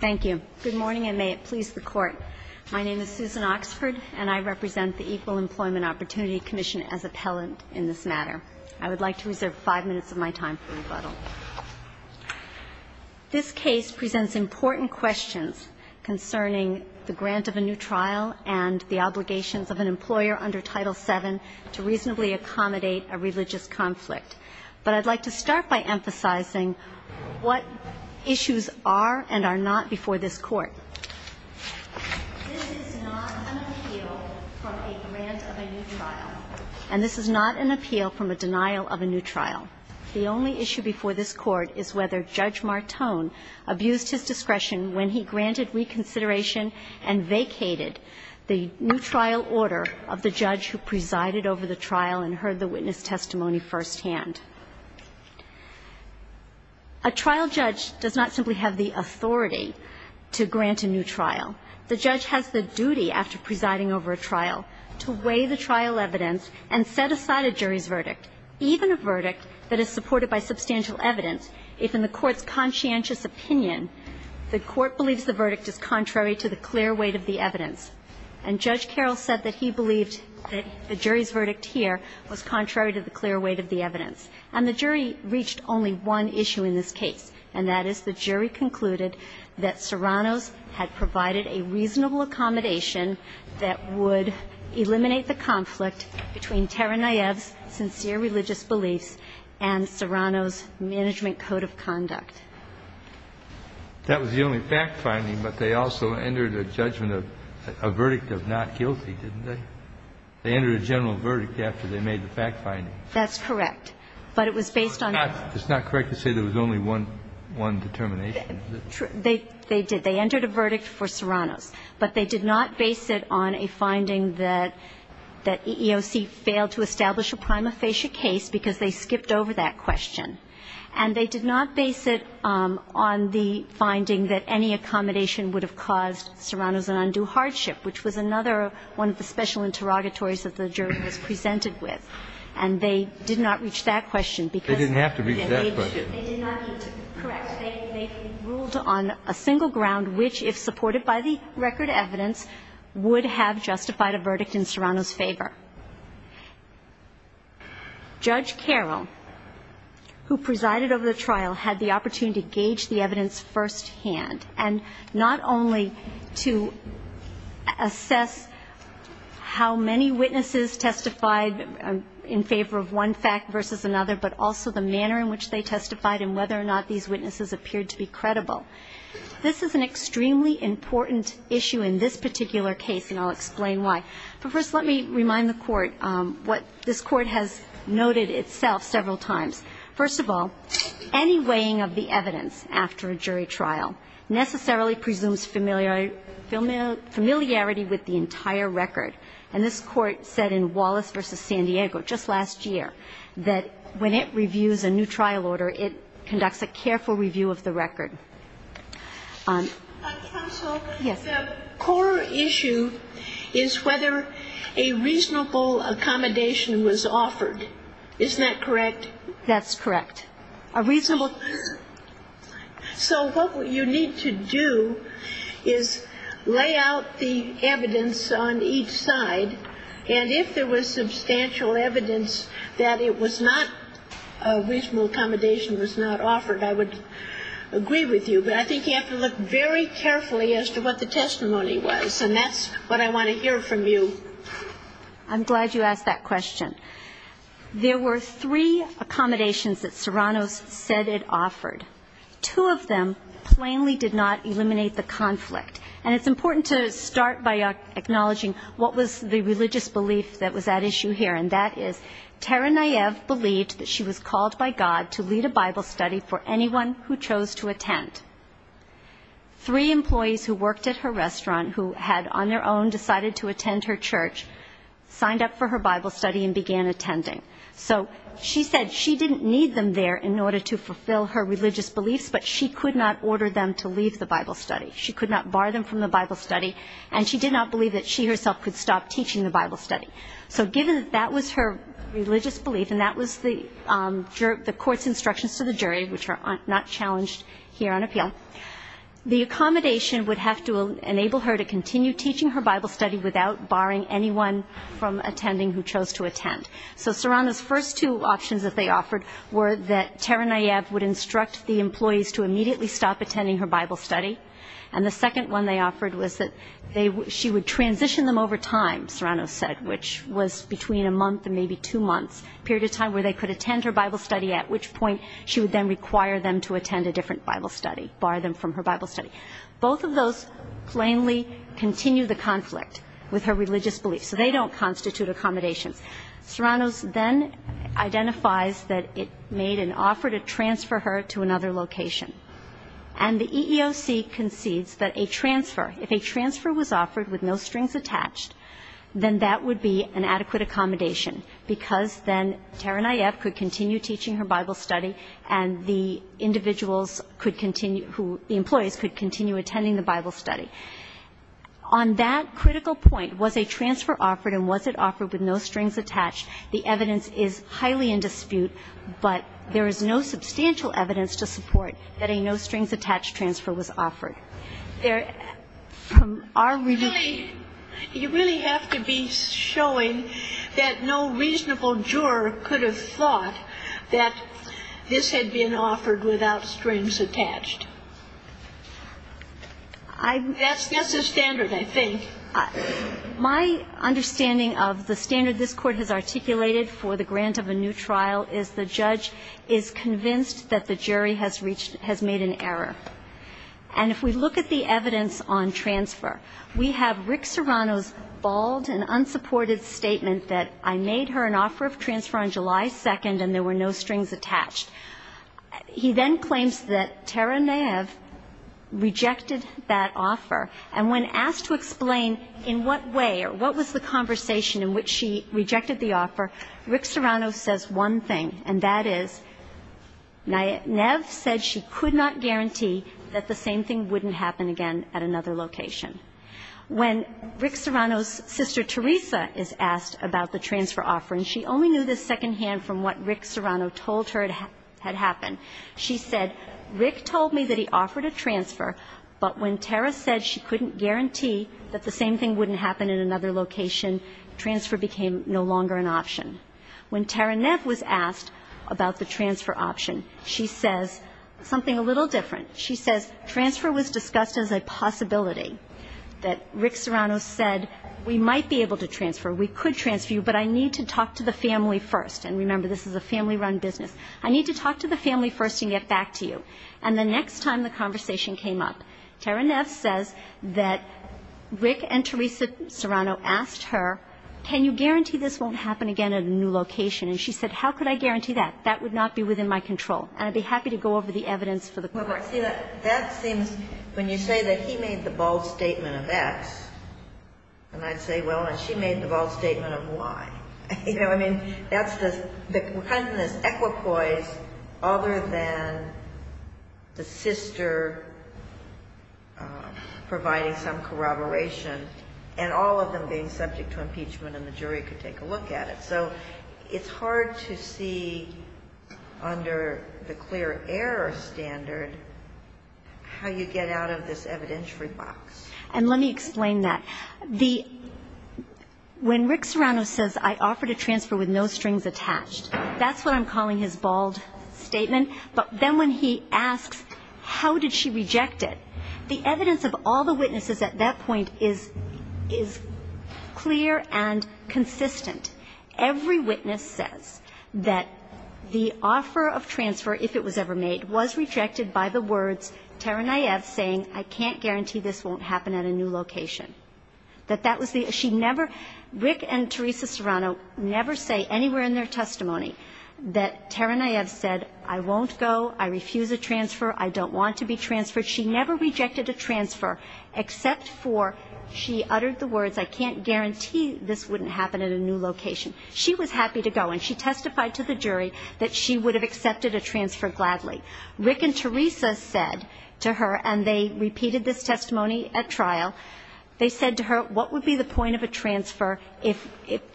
Thank you. Good morning, and may it please the Court. My name is Susan Oxford, and I represent the Equal Employment Opportunity Commission as appellant in this matter. I would like to reserve five minutes of my time for rebuttal. This case presents important questions concerning the grant of a new trial and the obligations of an employer under Title VII to reasonably accommodate a religious conflict. But I'd like to start by emphasizing what issues are and are not before this Court. This is not an appeal from a grant of a new trial, and this is not an appeal from a denial of a new trial. The only issue before this Court is whether Judge Martone abused his discretion when he granted reconsideration and vacated the new trial order of the judge who presided over the trial and heard the witness testimony firsthand. A trial judge does not simply have the authority to grant a new trial. The judge has the duty, after presiding over a trial, to weigh the trial evidence and set aside a jury's verdict, even a verdict that is supported by substantial evidence, if in the Court's conscientious opinion the Court believes the verdict is contrary to the clear weight of the evidence. And Judge Carroll said that he believed that the jury's verdict here was contrary to the clear weight of the evidence. And the jury reached only one issue in this case, and that is the jury concluded that Serrano's had provided a reasonable accommodation that would eliminate the conflict between Taranayev's sincere religious beliefs and Serrano's management code of conduct. That was the only fact-finding, but they also entered a judgment of a verdict of not guilty, didn't they? They entered a general verdict after they made the fact-finding. That's correct. But it was based on the fact. It's not correct to say there was only one determination. True. They did. They entered a verdict for Serrano's. But they did not base it on a finding that EEOC failed to establish a prima facie case because they skipped over that question. And they did not base it on the finding that any accommodation would have caused Serrano's an undue hardship, which was another one of the special interrogatories that the jury was presented with. And they did not reach that question because they did not need to correct. They ruled on a single ground, which, if supported by the record evidence, would have justified a verdict in Serrano's favor. Judge Carroll, who presided over the trial, had the opportunity to gauge the evidence firsthand, and not only to assess how many witnesses testified in favor of one fact versus another, but also the manner in which they testified and whether or not these witnesses appeared to be credible. This is an extremely important issue in this particular case, and I'll explain why. But first let me remind the Court what this Court has noted itself several times. First of all, any weighing of the evidence after a jury trial necessarily presumes familiarity with the entire record. And this Court said in Wallace v. San Diego just last year that when it reviews a new trial order, it conducts a careful review of the record. Counsel, the core issue is whether a reasonable accommodation was offered. Isn't that correct? That's correct. So what you need to do is lay out the evidence on each side, and if there was substantial evidence that it was not, a reasonable accommodation was not offered, I would agree with you. But I think you have to look very carefully as to what the testimony was, and that's what I want to hear from you. I'm glad you asked that question. There were three accommodations that Serrano said it offered. Two of them plainly did not eliminate the conflict. And it's important to start by acknowledging what was the religious belief that was at issue here, and that is Tara Nayeb believed that she was called by God to lead a Bible study for anyone who chose to attend. Three employees who worked at her restaurant who had on their own decided to attend her church signed up for her Bible study and began attending. So she said she didn't need them there in order to fulfill her religious beliefs, but she could not order them to leave the Bible study. She could not bar them from the Bible study, and she did not believe that she herself could stop teaching the Bible study. So given that that was her religious belief, and that was the court's instructions to the jury, which are not challenged here on appeal, the accommodation would have to enable her to continue teaching her Bible study without barring anyone from attending who chose to attend. So Serrano's first two options that they offered were that Tara Nayeb would instruct the employees to immediately stop attending her Bible study. And the second one they offered was that she would transition them over time, Serrano said, which was between a month and maybe two months, a period of time where they could attend her Bible study, at which point she would then require them to attend a different Bible study, bar them from her Bible study. Both of those plainly continue the conflict with her religious beliefs, so they don't constitute accommodations. Serrano's then identifies that it made an offer to transfer her to another location. And the EEOC concedes that a transfer, if a transfer was offered with no strings attached, then that would be an adequate accommodation because then Tara Nayeb could continue teaching her Bible study, and the individuals could continue, the employees could continue attending the Bible study. On that critical point, was a transfer offered and was it offered with no strings attached, the evidence is highly in dispute, but there is no substantial evidence to support that a no-strings-attached transfer was offered. There, from our reading. You really have to be showing that no reasonable juror could have thought that this had been offered without strings attached. That's the standard, I think. My understanding of the standard this Court has articulated for the grant of a new trial is the judge is convinced that the jury has reached, has made an error. And if we look at the evidence on transfer, we have Rick Serrano's bald and unsupported statement that I made her an offer of transfer on July 2nd and there were no strings attached. He then claims that Tara Nayeb rejected that offer. And when asked to explain in what way or what was the conversation in which she rejected the offer, Rick Serrano says one thing, and that is Nayeb said she could not guarantee that the same thing wouldn't happen again at another location. When Rick Serrano's sister Teresa is asked about the transfer offer, and she only knew this secondhand from what Rick Serrano told her had happened, she said, Rick told me that he offered a transfer, but when Tara said she couldn't guarantee that the same thing wouldn't happen in another location, transfer became no longer an option. When Tara Neff was asked about the transfer option, she says something a little different. She says transfer was discussed as a possibility, that Rick Serrano said we might be able to transfer, we could transfer you, but I need to talk to the family first. And remember, this is a family-run business. I need to talk to the family first and get back to you. And the next time the conversation came up, Tara Neff says that Rick and Teresa Serrano asked her, can you guarantee this won't happen again at a new location? And she said, how could I guarantee that? That would not be within my control. And I'd be happy to go over the evidence for the court. Sotomayor That seems, when you say that he made the bold statement of X, and I'd say, well, and she made the bold statement of Y. You know, I mean, that's the kind of this equipoise other than the sister providing some corroboration and all of them being subject to impeachment and the jury could take a look at it. So it's hard to see under the clear error standard how you get out of this evidentiary box. And let me explain that. When Rick Serrano says, I offer to transfer with no strings attached, that's what I'm calling his bold statement. But then when he asks, how did she reject it, the evidence of all the witnesses at that point is clear and consistent. Every witness says that the offer of transfer, if it was ever made, was rejected by the words Taranaev saying, I can't guarantee this won't happen at a new location. That that was the ‑‑ she never ‑‑ Rick and Teresa Serrano never say anywhere in their testimony that Taranaev said, I won't go, I refuse a transfer, I don't want to be transferred. She never rejected a transfer except for she uttered the words, I can't guarantee this wouldn't happen at a new location. She was happy to go and she testified to the jury that she would have accepted a transfer gladly. Rick and Teresa said to her, and they repeated this testimony at trial, they said to her, what would be the point of a transfer if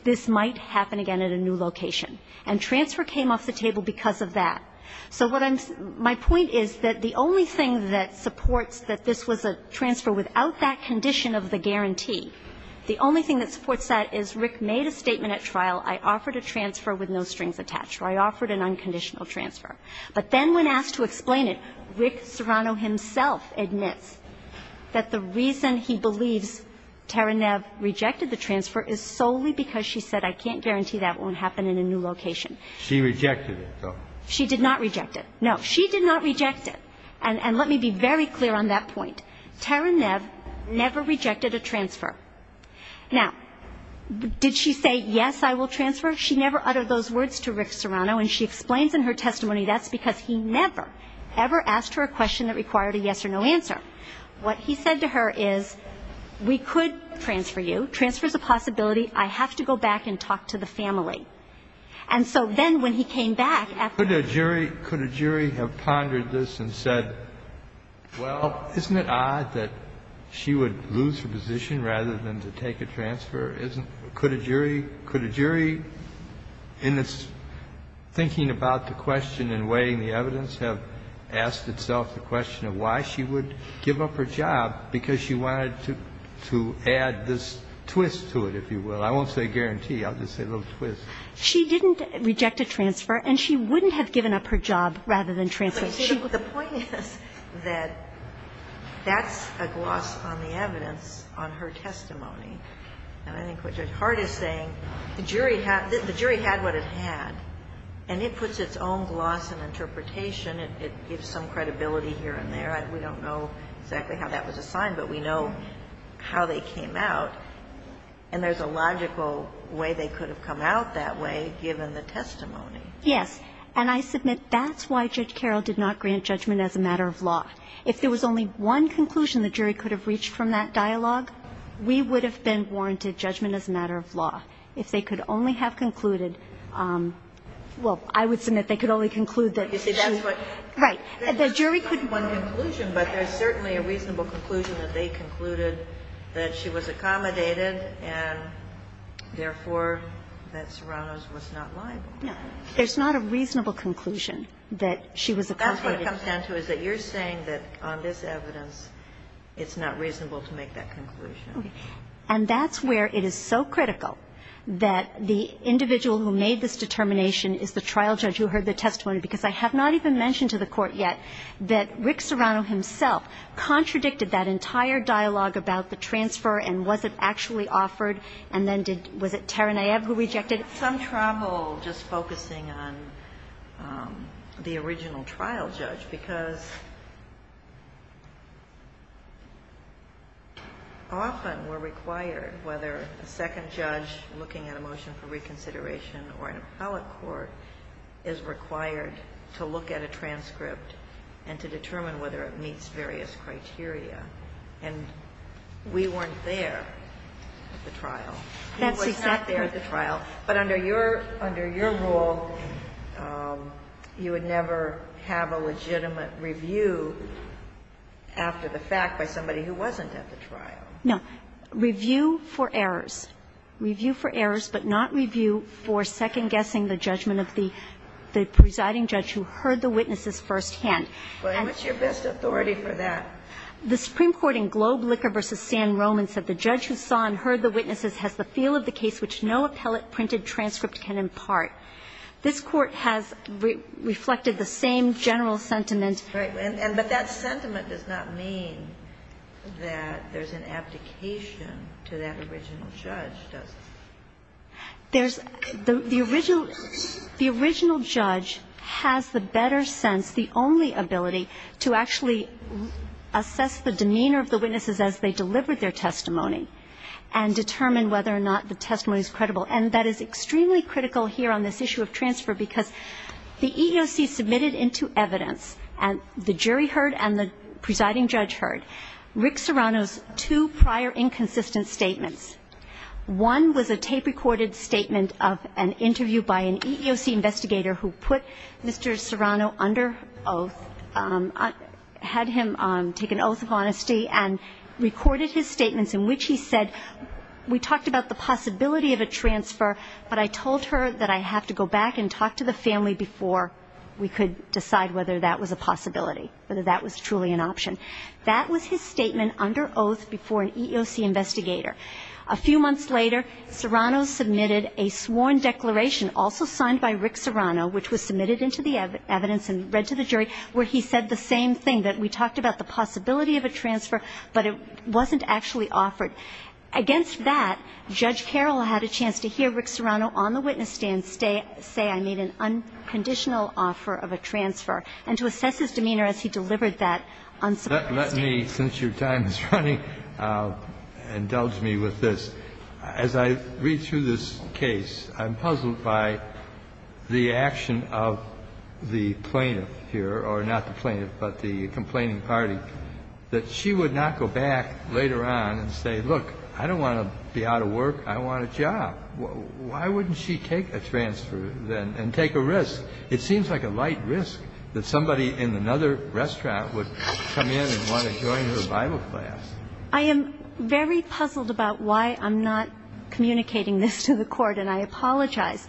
this might happen again at a new location? And transfer came off the table because of that. So what I'm ‑‑ my point is that the only thing that supports that this was a statement at trial, I offered a transfer with no strings attached. I offered an unconditional transfer. But then when asked to explain it, Rick Serrano himself admits that the reason he believes Taranaev rejected the transfer is solely because she said I can't guarantee that won't happen in a new location. She rejected it, though. She did not reject it. No. She did not reject it. And let me be very clear on that point. Taranaev never rejected a transfer. Now, did she say, yes, I will transfer? She never uttered those words to Rick Serrano, and she explains in her testimony that's because he never, ever asked her a question that required a yes or no answer. What he said to her is, we could transfer you. Transfer is a possibility. I have to go back and talk to the family. And so then when he came back after ‑‑ Could a jury have pondered this and said, well, isn't it odd that she would lose her position rather than to take a transfer? Could a jury, in its thinking about the question and weighing the evidence, have asked itself the question of why she would give up her job, because she wanted to add this twist to it, if you will. I won't say guarantee. I'll just say a little twist. She didn't reject a transfer, and she wouldn't have given up her job rather than transfer. The point is that that's a gloss on the evidence on her testimony. And I think what Judge Hart is saying, the jury had what it had, and it puts its own gloss and interpretation. It gives some credibility here and there. We don't know exactly how that was assigned, but we know how they came out. And there's a logical way they could have come out that way, given the testimony. Yes. And I submit that's why Judge Carroll did not grant judgment as a matter of law. If there was only one conclusion the jury could have reached from that dialogue, we would have been warranted judgment as a matter of law. If they could only have concluded ‑‑ well, I would submit they could only conclude that she ‑‑ You see, that's what ‑‑ Right. The jury could ‑‑ There's not just one conclusion, but there's certainly a reasonable conclusion that they concluded that she was accommodated and, therefore, that Serrano's testimony was not liable. No. There's not a reasonable conclusion that she was accommodated. That's what it comes down to, is that you're saying that on this evidence it's not reasonable to make that conclusion. Okay. And that's where it is so critical that the individual who made this determination is the trial judge who heard the testimony, because I have not even mentioned to the Court yet that Rick Serrano himself contradicted that entire dialogue about the transfer and was it actually offered, and then did ‑‑ was it Taranayev who rejected it? Some trouble just focusing on the original trial judge, because often we're required whether a second judge looking at a motion for reconsideration or an appellate court is required to look at a transcript and to determine whether it meets various criteria. And we weren't there at the trial. That's exactly right. We were not there at the trial. But under your ‑‑ under your rule, you would never have a legitimate review after the fact by somebody who wasn't at the trial. No. Review for errors. Review for errors, but not review for second-guessing the judgment of the presiding judge who heard the witnesses firsthand. Well, what's your best authority for that? The Supreme Court in Globe Liquor v. San Roman said the judge who saw and heard the witnesses has the feel of the case which no appellate printed transcript can impart. This Court has reflected the same general sentiment. Right. But that sentiment does not mean that there's an abdication to that original judge, does it? There's ‑‑ the original ‑‑ the original judge has the better sense, the only better ability to actually assess the demeanor of the witnesses as they delivered their testimony and determine whether or not the testimony is credible. And that is extremely critical here on this issue of transfer because the EEOC submitted into evidence and the jury heard and the presiding judge heard Rick Serrano's two prior inconsistent statements. One was a tape-recorded statement of an interview by an EEOC investigator who put Mr. Serrano under oath, had him take an oath of honesty and recorded his statements in which he said, we talked about the possibility of a transfer, but I told her that I have to go back and talk to the family before we could decide whether that was a possibility, whether that was truly an option. That was his statement under oath before an EEOC investigator. A few months later, Serrano submitted a sworn declaration also signed by Rick Serrano, which was submitted into the evidence and read to the jury, where he said the same thing, that we talked about the possibility of a transfer, but it wasn't actually offered. Against that, Judge Carroll had a chance to hear Rick Serrano on the witness stand say I made an unconditional offer of a transfer and to assess his demeanor as he delivered that unsurprising statement. Let me, since your time is running, indulge me with this. As I read through this case, I'm puzzled by the action of the plaintiff here, or not the plaintiff, but the complaining party, that she would not go back later on and say, look, I don't want to be out of work. I want a job. Why wouldn't she take a transfer and take a risk? It seems like a light risk that somebody in another restaurant would come in and want to join her Bible class. I am very puzzled about why I'm not communicating this to the Court, and I apologize.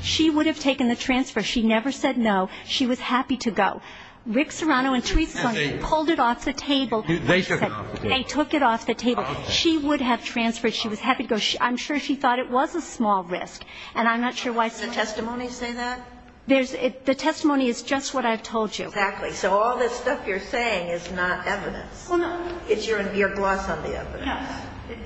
She would have taken the transfer. She never said no. She was happy to go. Rick Serrano intrigued somebody, pulled it off the table. They took it off the table. They took it off the table. She would have transferred. She was happy to go. I'm sure she thought it was a small risk. And I'm not sure why somebody would say that. Does the testimony say that? The testimony is just what I've told you. Exactly. So all this stuff you're saying is not evidence. Well, no. It's your gloss on the evidence. No.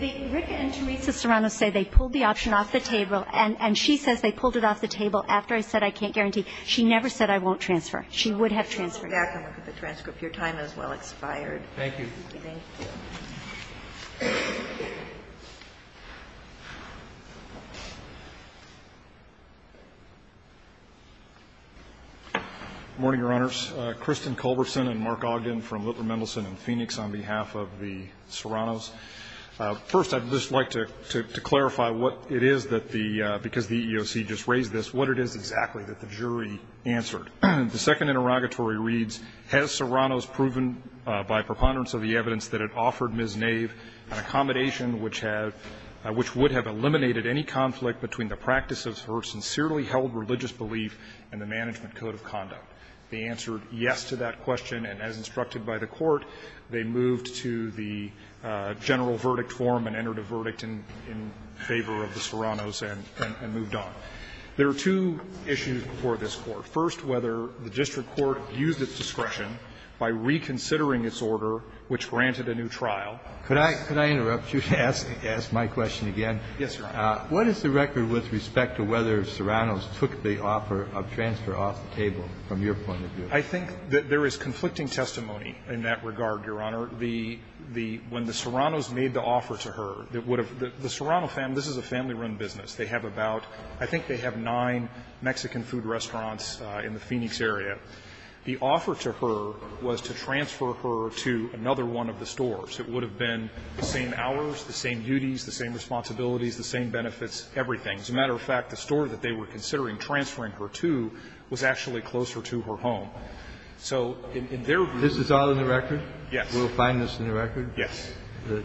Rick and Teresa Serrano say they pulled the option off the table, and she says they pulled it off the table after I said I can't guarantee. She never said I won't transfer. She would have transferred. Let's go back and look at the transcript. Your time has well expired. Thank you. Thank you. Morning, Your Honors. Kristen Culberson and Mark Ogden from Littler Mendelson and Phoenix on behalf of the Serranos. First, I'd just like to clarify what it is that the EEOC just raised this, what it is exactly that the jury answered. The second interrogatory reads, Has Serrano's proven by preponderance of the evidence that it offered Ms. Nave an accommodation which would have eliminated any conflict between the practice of her sincerely held religious belief and the management code of conduct? The answer, yes, to that question. And as instructed by the Court, they moved to the general verdict form and entered a verdict in favor of the Serranos and moved on. There are two issues before this Court. First, whether the district court used its discretion by reconsidering its order, which granted a new trial. Could I interrupt you to ask my question again? Yes, Your Honor. I think that there is conflicting testimony in that regard, Your Honor. The, the, when the Serranos made the offer to her, it would have, the Serrano family, this is a family-run business. They have about, I think they have nine Mexican food restaurants in the Phoenix area. The offer to her was to transfer her to another one of the stores. It would have been the same hours, the same duties, the same responsibilities, the same benefits, everything. As a matter of fact, the store that they were considering transferring her to was actually closer to her home. So in their view. This is all in the record? Yes. We'll find this in the record? Yes. And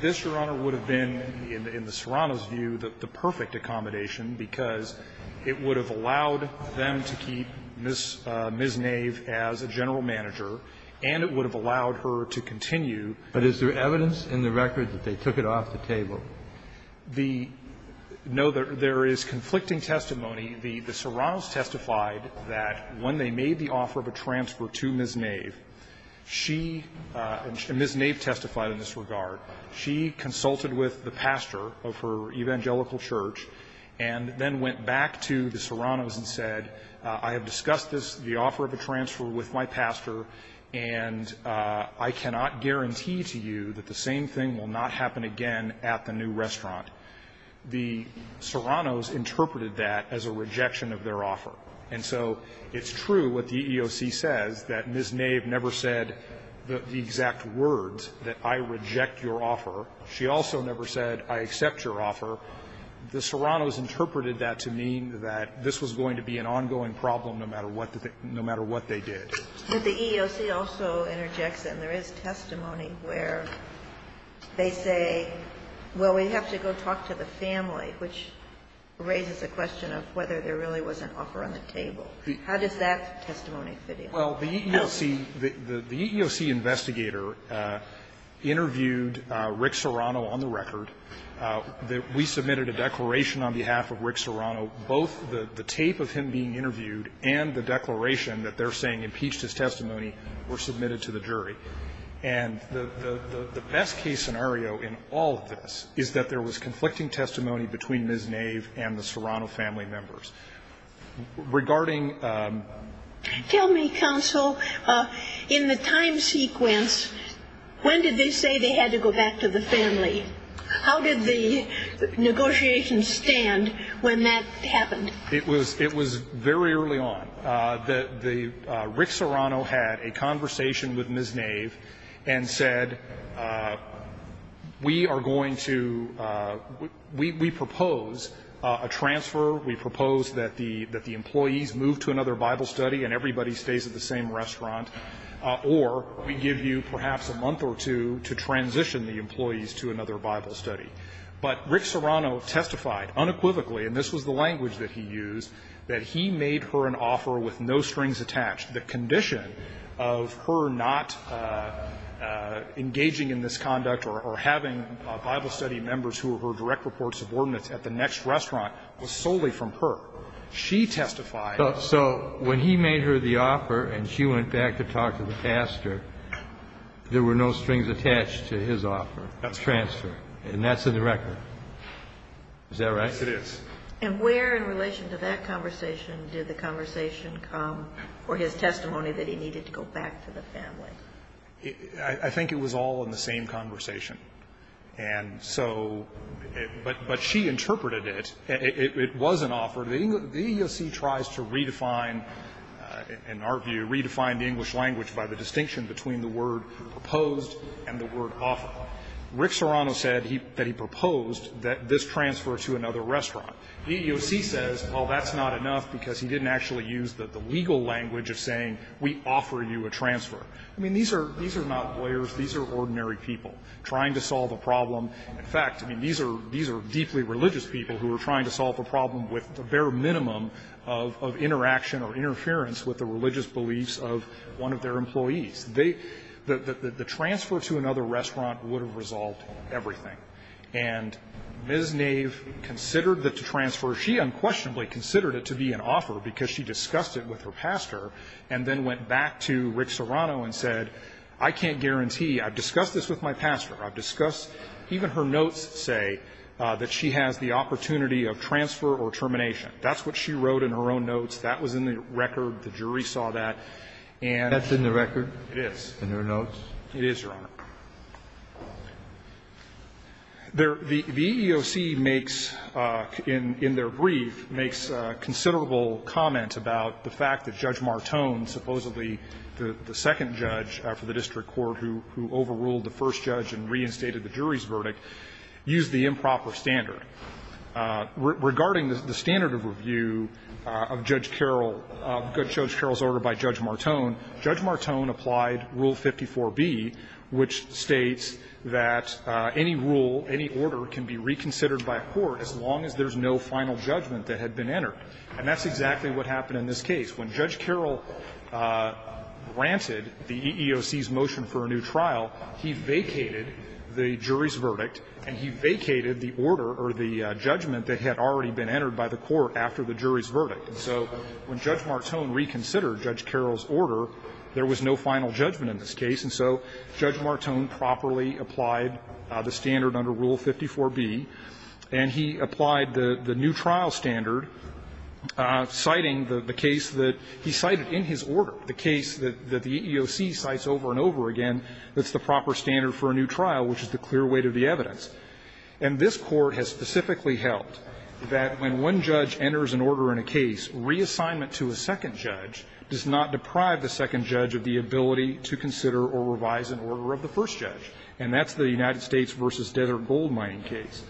this, Your Honor, would have been, in the Serranos' view, the perfect accommodation because it would have allowed them to keep Ms. Nave as a general manager and it would have allowed her to continue. But is there evidence in the record that they took it off the table? The no, there is conflicting testimony. The Serranos testified that when they made the offer of a transfer to Ms. Nave, she and Ms. Nave testified in this regard. She consulted with the pastor of her evangelical church and then went back to the Serranos and said, I have discussed this, the offer of a transfer with my pastor, and I cannot guarantee to you that the same thing will not happen again at the new restaurant. The Serranos interpreted that as a rejection of their offer. And so it's true what the EEOC says, that Ms. Nave never said the exact words, that I reject your offer. She also never said, I accept your offer. The Serranos interpreted that to mean that this was going to be an ongoing problem no matter what they did. The EEOC also interjects that there is testimony where they say, well, we have to go talk to the family, which raises the question of whether there really was an offer on the table. How does that testimony fit in? Well, the EEOC, the EEOC investigator interviewed Rick Serrano on the record. We submitted a declaration on behalf of Rick Serrano, both the tape of him being his testimony were submitted to the jury. And the best case scenario in all of this is that there was conflicting testimony between Ms. Nave and the Serrano family members. Regarding the ---- Tell me, counsel, in the time sequence, when did they say they had to go back to the family? How did the negotiations stand when that happened? It was very early on. The ---- Rick Serrano had a conversation with Ms. Nave and said, we are going to ---- we propose a transfer, we propose that the employees move to another Bible study and everybody stays at the same restaurant, or we give you perhaps a month or two to transition the employees to another Bible study. But Rick Serrano testified unequivocally, and this was the language that he used, that he made her an offer with no strings attached. The condition of her not engaging in this conduct or having Bible study members who were her direct report subordinates at the next restaurant was solely from her. She testified ---- So when he made her the offer and she went back to talk to the pastor, there were no strings attached to his offer. That's correct. Transfer. And that's in the record. Is that right? Yes, it is. And where in relation to that conversation did the conversation come, or his testimony that he needed to go back to the family? I think it was all in the same conversation. And so, but she interpreted it. It was an offer. The EEOC tries to redefine, in our view, redefine the English language by the distinction between the word proposed and the word offer. Rick Serrano said that he proposed this transfer to another restaurant. The EEOC says, well, that's not enough, because he didn't actually use the legal language of saying, we offer you a transfer. I mean, these are not lawyers. These are ordinary people trying to solve a problem. In fact, I mean, these are deeply religious people who are trying to solve a problem with the bare minimum of interaction or interference with the religious beliefs of one of their employees. They, the transfer to another restaurant would have resolved everything. And Ms. Knave considered the transfer, she unquestionably considered it to be an offer because she discussed it with her pastor and then went back to Rick Serrano and said, I can't guarantee. I've discussed this with my pastor. I've discussed, even her notes say that she has the opportunity of transfer or termination. That's what she wrote in her own notes. That was in the record. The jury saw that. And that's in the record? It is. In her notes? It is, Your Honor. The EEOC makes, in their brief, makes considerable comment about the fact that Judge Martone, supposedly the second judge for the district court who overruled the first judge and reinstated the jury's verdict, used the improper standard. Regarding the standard of review of Judge Carroll, Judge Carroll's order by Judge Martone, Judge Martone applied Rule 54b, which states that any rule, any order can be reconsidered by a court as long as there's no final judgment that had been entered. And that's exactly what happened in this case. When Judge Carroll granted the EEOC's motion for a new trial, he vacated the jury's order or the judgment that had already been entered by the court after the jury's verdict. And so when Judge Martone reconsidered Judge Carroll's order, there was no final judgment in this case. And so Judge Martone properly applied the standard under Rule 54b, and he applied the new trial standard, citing the case that he cited in his order, the case that the EEOC cites over and over again that's the proper standard for a new trial, which is the clear weight of the evidence. And this Court has specifically held that when one judge enters an order in a case, reassignment to a second judge does not deprive the second judge of the ability to consider or revise an order of the first judge. And that's the United States v. Desert Goldmine case.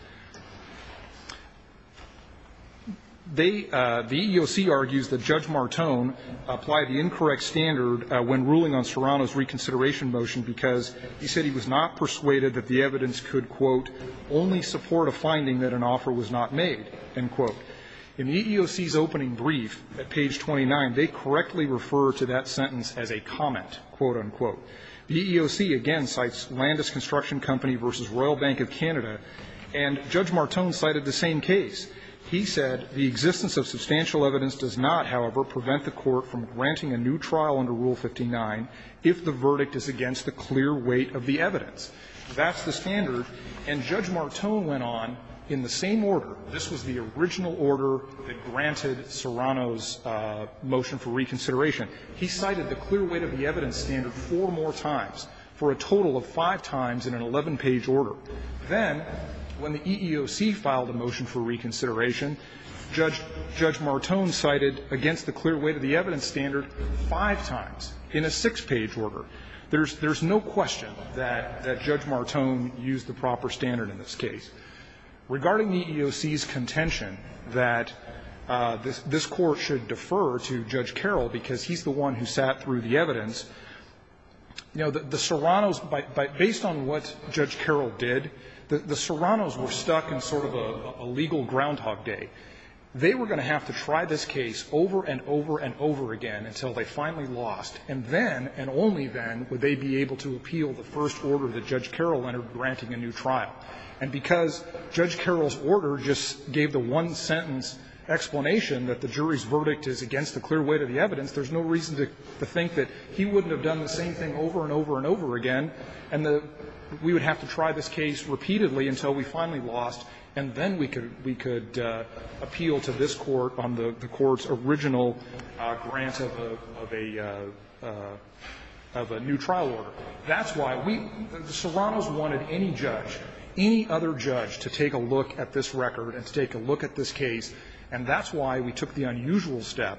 They – the EEOC argues that Judge Martone applied the incorrect standard when ruling on Serrano's reconsideration motion because he said he was not persuaded that the EEOC would only support a finding that an offer was not made, end quote. In the EEOC's opening brief at page 29, they correctly refer to that sentence as a comment, quote, unquote. The EEOC, again, cites Landis Construction Company v. Royal Bank of Canada, and Judge Martone cited the same case. He said the existence of substantial evidence does not, however, prevent the court from granting a new trial under Rule 59 if the verdict is against the clear weight of the evidence. That's the standard. And Judge Martone went on in the same order. This was the original order that granted Serrano's motion for reconsideration. He cited the clear weight of the evidence standard four more times, for a total of five times in an 11-page order. Then, when the EEOC filed a motion for reconsideration, Judge Martone cited against the clear weight of the evidence standard five times in a six-page order. There's no question that Judge Martone used the proper standard in this case. Regarding the EEOC's contention that this Court should defer to Judge Carroll because he's the one who sat through the evidence, you know, the Serrano's, based on what Judge Carroll did, the Serrano's were stuck in sort of a legal groundhog day. They were going to have to try this case over and over and over again until they finally lost, and then, and only then, would they be able to appeal the first order that Judge Carroll entered granting a new trial. And because Judge Carroll's order just gave the one-sentence explanation that the jury's verdict is against the clear weight of the evidence, there's no reason to think that he wouldn't have done the same thing over and over and over again. And we would have to try this case repeatedly until we finally lost, and then we could appeal to this Court on the Court's original grant of a new trial order. That's why we – the Serrano's wanted any judge, any other judge, to take a look at this record and to take a look at this case. And that's why we took the unusual step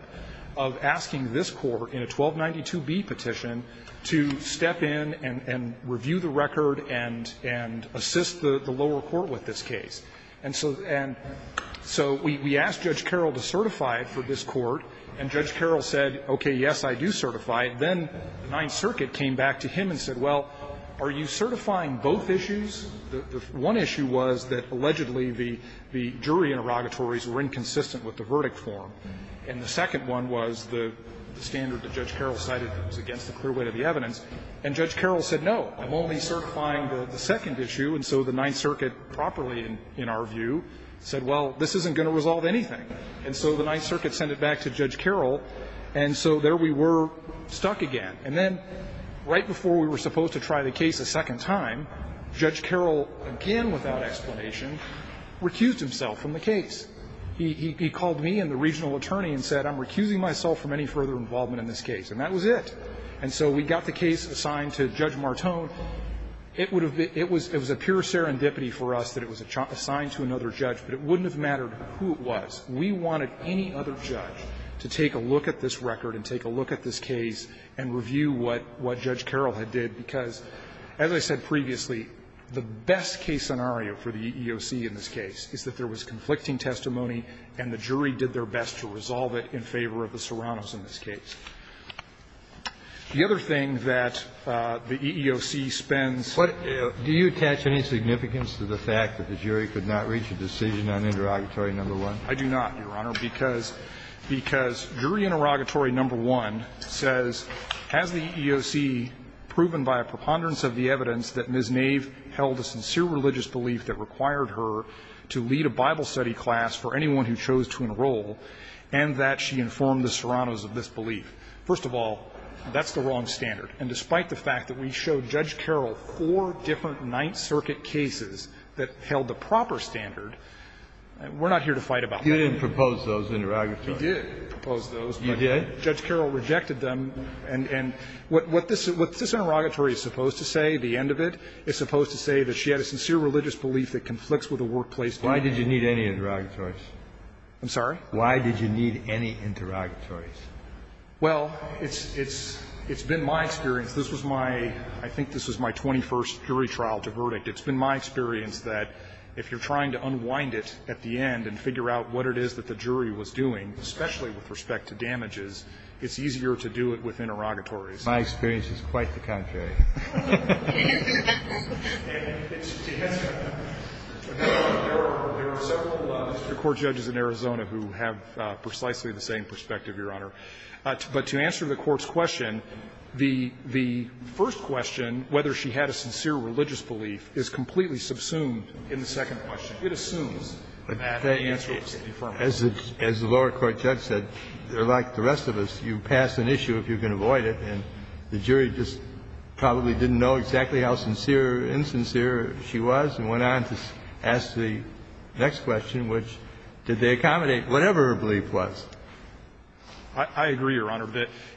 of asking this Court in a 1292b petition to step in and review the record and assist the lower court with this case. And so – and so we asked Judge Carroll to certify it for this Court, and Judge Carroll said, okay, yes, I do certify it. Then the Ninth Circuit came back to him and said, well, are you certifying both issues? The one issue was that allegedly the jury interrogatories were inconsistent with the verdict form, and the second one was the standard that Judge Carroll cited that was against the clear weight of the evidence. And Judge Carroll said, no, I'm only certifying the second issue. And so the Ninth Circuit, properly in our view, said, well, this isn't going to resolve anything. And so the Ninth Circuit sent it back to Judge Carroll, and so there we were, stuck again. And then right before we were supposed to try the case a second time, Judge Carroll, again without explanation, recused himself from the case. He called me and the regional attorney and said, I'm recusing myself from any further involvement in this case. And that was it. And so we got the case assigned to Judge Martone. It would have been ‑‑ it was a pure serendipity for us that it was assigned to another judge, but it wouldn't have mattered who it was. We wanted any other judge to take a look at this record and take a look at this case and review what Judge Carroll had did, because, as I said previously, the best case scenario for the EEOC in this case is that there was conflicting testimony, and the jury did their best to resolve it in favor of the Serrano's in this case. The other thing that the EEOC spends ‑‑ Kennedy, do you attach any significance to the fact that the jury could not reach a decision on Interrogatory No. 1? I do not, Your Honor, because ‑‑ because Jury Interrogatory No. 1 says, has the EEOC proven by a preponderance of the evidence that Ms. Nave held a sincere religious belief that required her to lead a Bible study class for anyone who chose to enroll, and that she informed the Serrano's of this belief. First of all, that's the wrong standard. And despite the fact that we showed Judge Carroll four different Ninth Circuit cases that held the proper standard, we're not here to fight about that. You didn't propose those interrogatories. We did propose those. You did? But Judge Carroll rejected them. And what this interrogatory is supposed to say, the end of it, is supposed to say that she had a sincere religious belief that conflicts with the workplace definition. Why did you need any interrogatories? I'm sorry? Why did you need any interrogatories? Well, it's been my experience. This was my ‑‑ I think this was my 21st jury trial to verdict. It's been my experience that if you're trying to unwind it at the end and figure out what it is that the jury was doing, especially with respect to damages, it's easier to do it with interrogatories. My experience is quite the contrary. There are several court judges in Arizona who have precisely the same perspective, Your Honor. But to answer the Court's question, the first question, whether she had a sincere religious belief, is completely subsumed in the second question. It assumes that the answer is affirmative. As the lower court judge said, like the rest of us, you pass an issue if you can avoid it, and the jury just probably didn't know exactly how sincere or insincere she was and went on to ask the next question, which, did they accommodate whatever her belief was? I agree, Your Honor.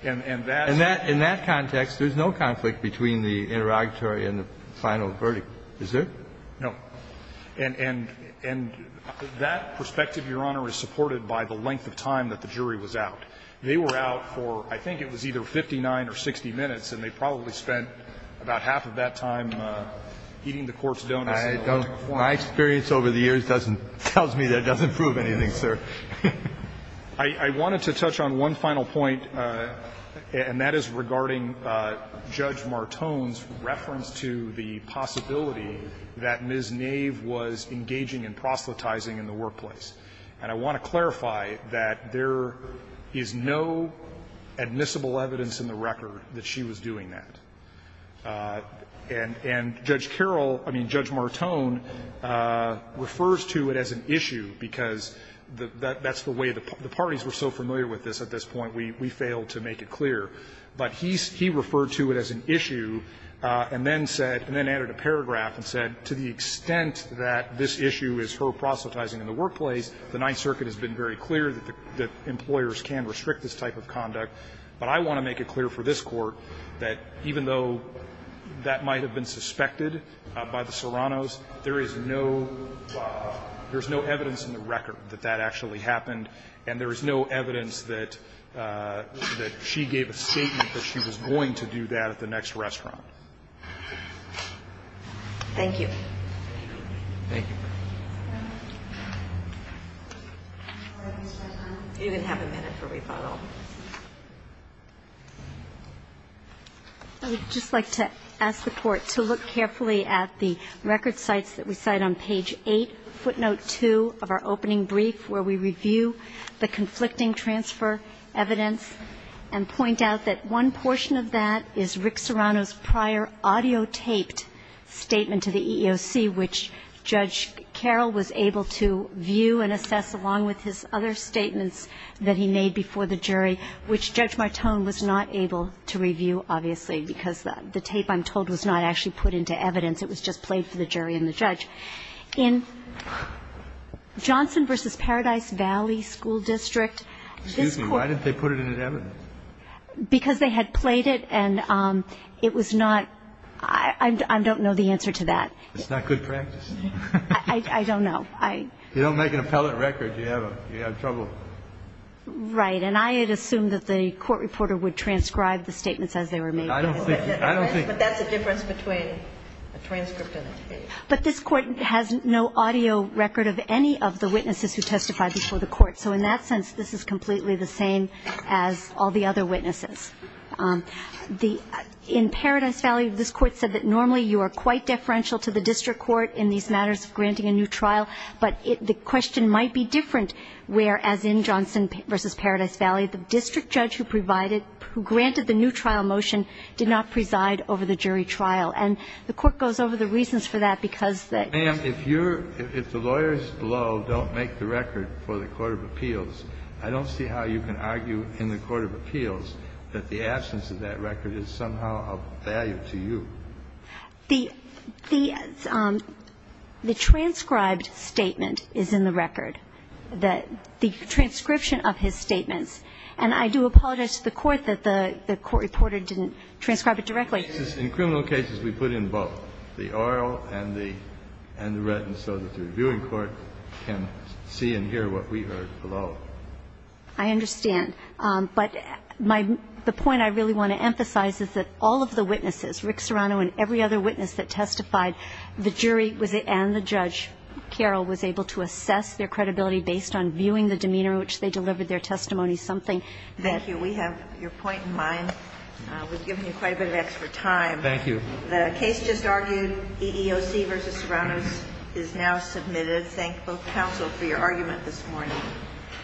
In that context, there's no conflict between the interrogatory and the final verdict. Is there? No. And that perspective, Your Honor, is supported by the length of time that the jury was out. They were out for, I think it was either 59 or 60 minutes, and they probably spent about half of that time eating the court's donuts. My experience over the years doesn't tell me that it doesn't prove anything, sir. I wanted to touch on one final point, and that is regarding Judge Martone's reference to the possibility that Ms. Nave was engaging in proselytizing in the workplace. And I want to clarify that there is no admissible evidence in the record that she was doing that. And Judge Carroll, I mean, Judge Martone, refers to it as an issue because that's the way the parties were so familiar with this at this point, we failed to make it clear. But he referred to it as an issue, and then said, and then added a paragraph and said, to the extent that this issue is her proselytizing in the workplace, the Ninth Circuit has been very clear that employers can restrict this type of conduct. But I want to make it clear for this court that even though that might have been suspected by the Serrano's, there is no evidence in the record that that actually happened. And there is no evidence that she gave a statement that she was going to do that at the next restaurant. Thank you. Thank you. You can have a minute for rebuttal. I would just like to ask the Court to look carefully at the record sites that we cite on page 8, footnote 2 of our opening brief, where we review the conflicting transfer evidence and point out that one portion of that is Rick Serrano's prior audio taped statement to the EEOC, which Judge Carroll was able to view and assess along with his other statements that he made before the jury, which Judge Martone was not able to review, obviously, because the tape, I'm told, was not actually put into evidence. It was just played for the jury and the judge. In Johnson v. Paradise Valley School District, this Court ---- Excuse me. Why didn't they put it in evidence? Because they had played it and it was not ---- I don't know the answer to that. It's not good practice. I don't know. If you don't make an appellate record, you have trouble. Right. And I had assumed that the court reporter would transcribe the statements as they were made. I don't think so. But that's the difference between a transcript and a tape. But this Court has no audio record of any of the witnesses who testified before the Court. So in that sense, this is completely the same as all the other witnesses. The ---- In Paradise Valley, this Court said that normally you are quite deferential to the district court in these matters of granting a new trial. But the question might be different where, as in Johnson v. Paradise Valley, the district judge who provided ---- who granted the new trial motion did not preside over the jury trial. And the Court goes over the reasons for that because the ---- If the lawyers below don't make the record for the court of appeals, I don't see how you can argue in the court of appeals that the absence of that record is somehow of value to you. The transcribed statement is in the record. The transcription of his statements. And I do apologize to the Court that the court reporter didn't transcribe it directly. In criminal cases, we put in both, the oral and the written, so that the reviewing court can see and hear what we heard below. I understand. But my ---- the point I really want to emphasize is that all of the witnesses, Rick Serrano and every other witness that testified, the jury and the judge, Carol, was able to assess their credibility based on viewing the demeanor in which they delivered their testimony, something that ---- Thank you. We have your point in mind. We've given you quite a bit of extra time. Thank you. The case just argued, EEOC v. Serrano, is now submitted. Thank both counsel for your argument this morning.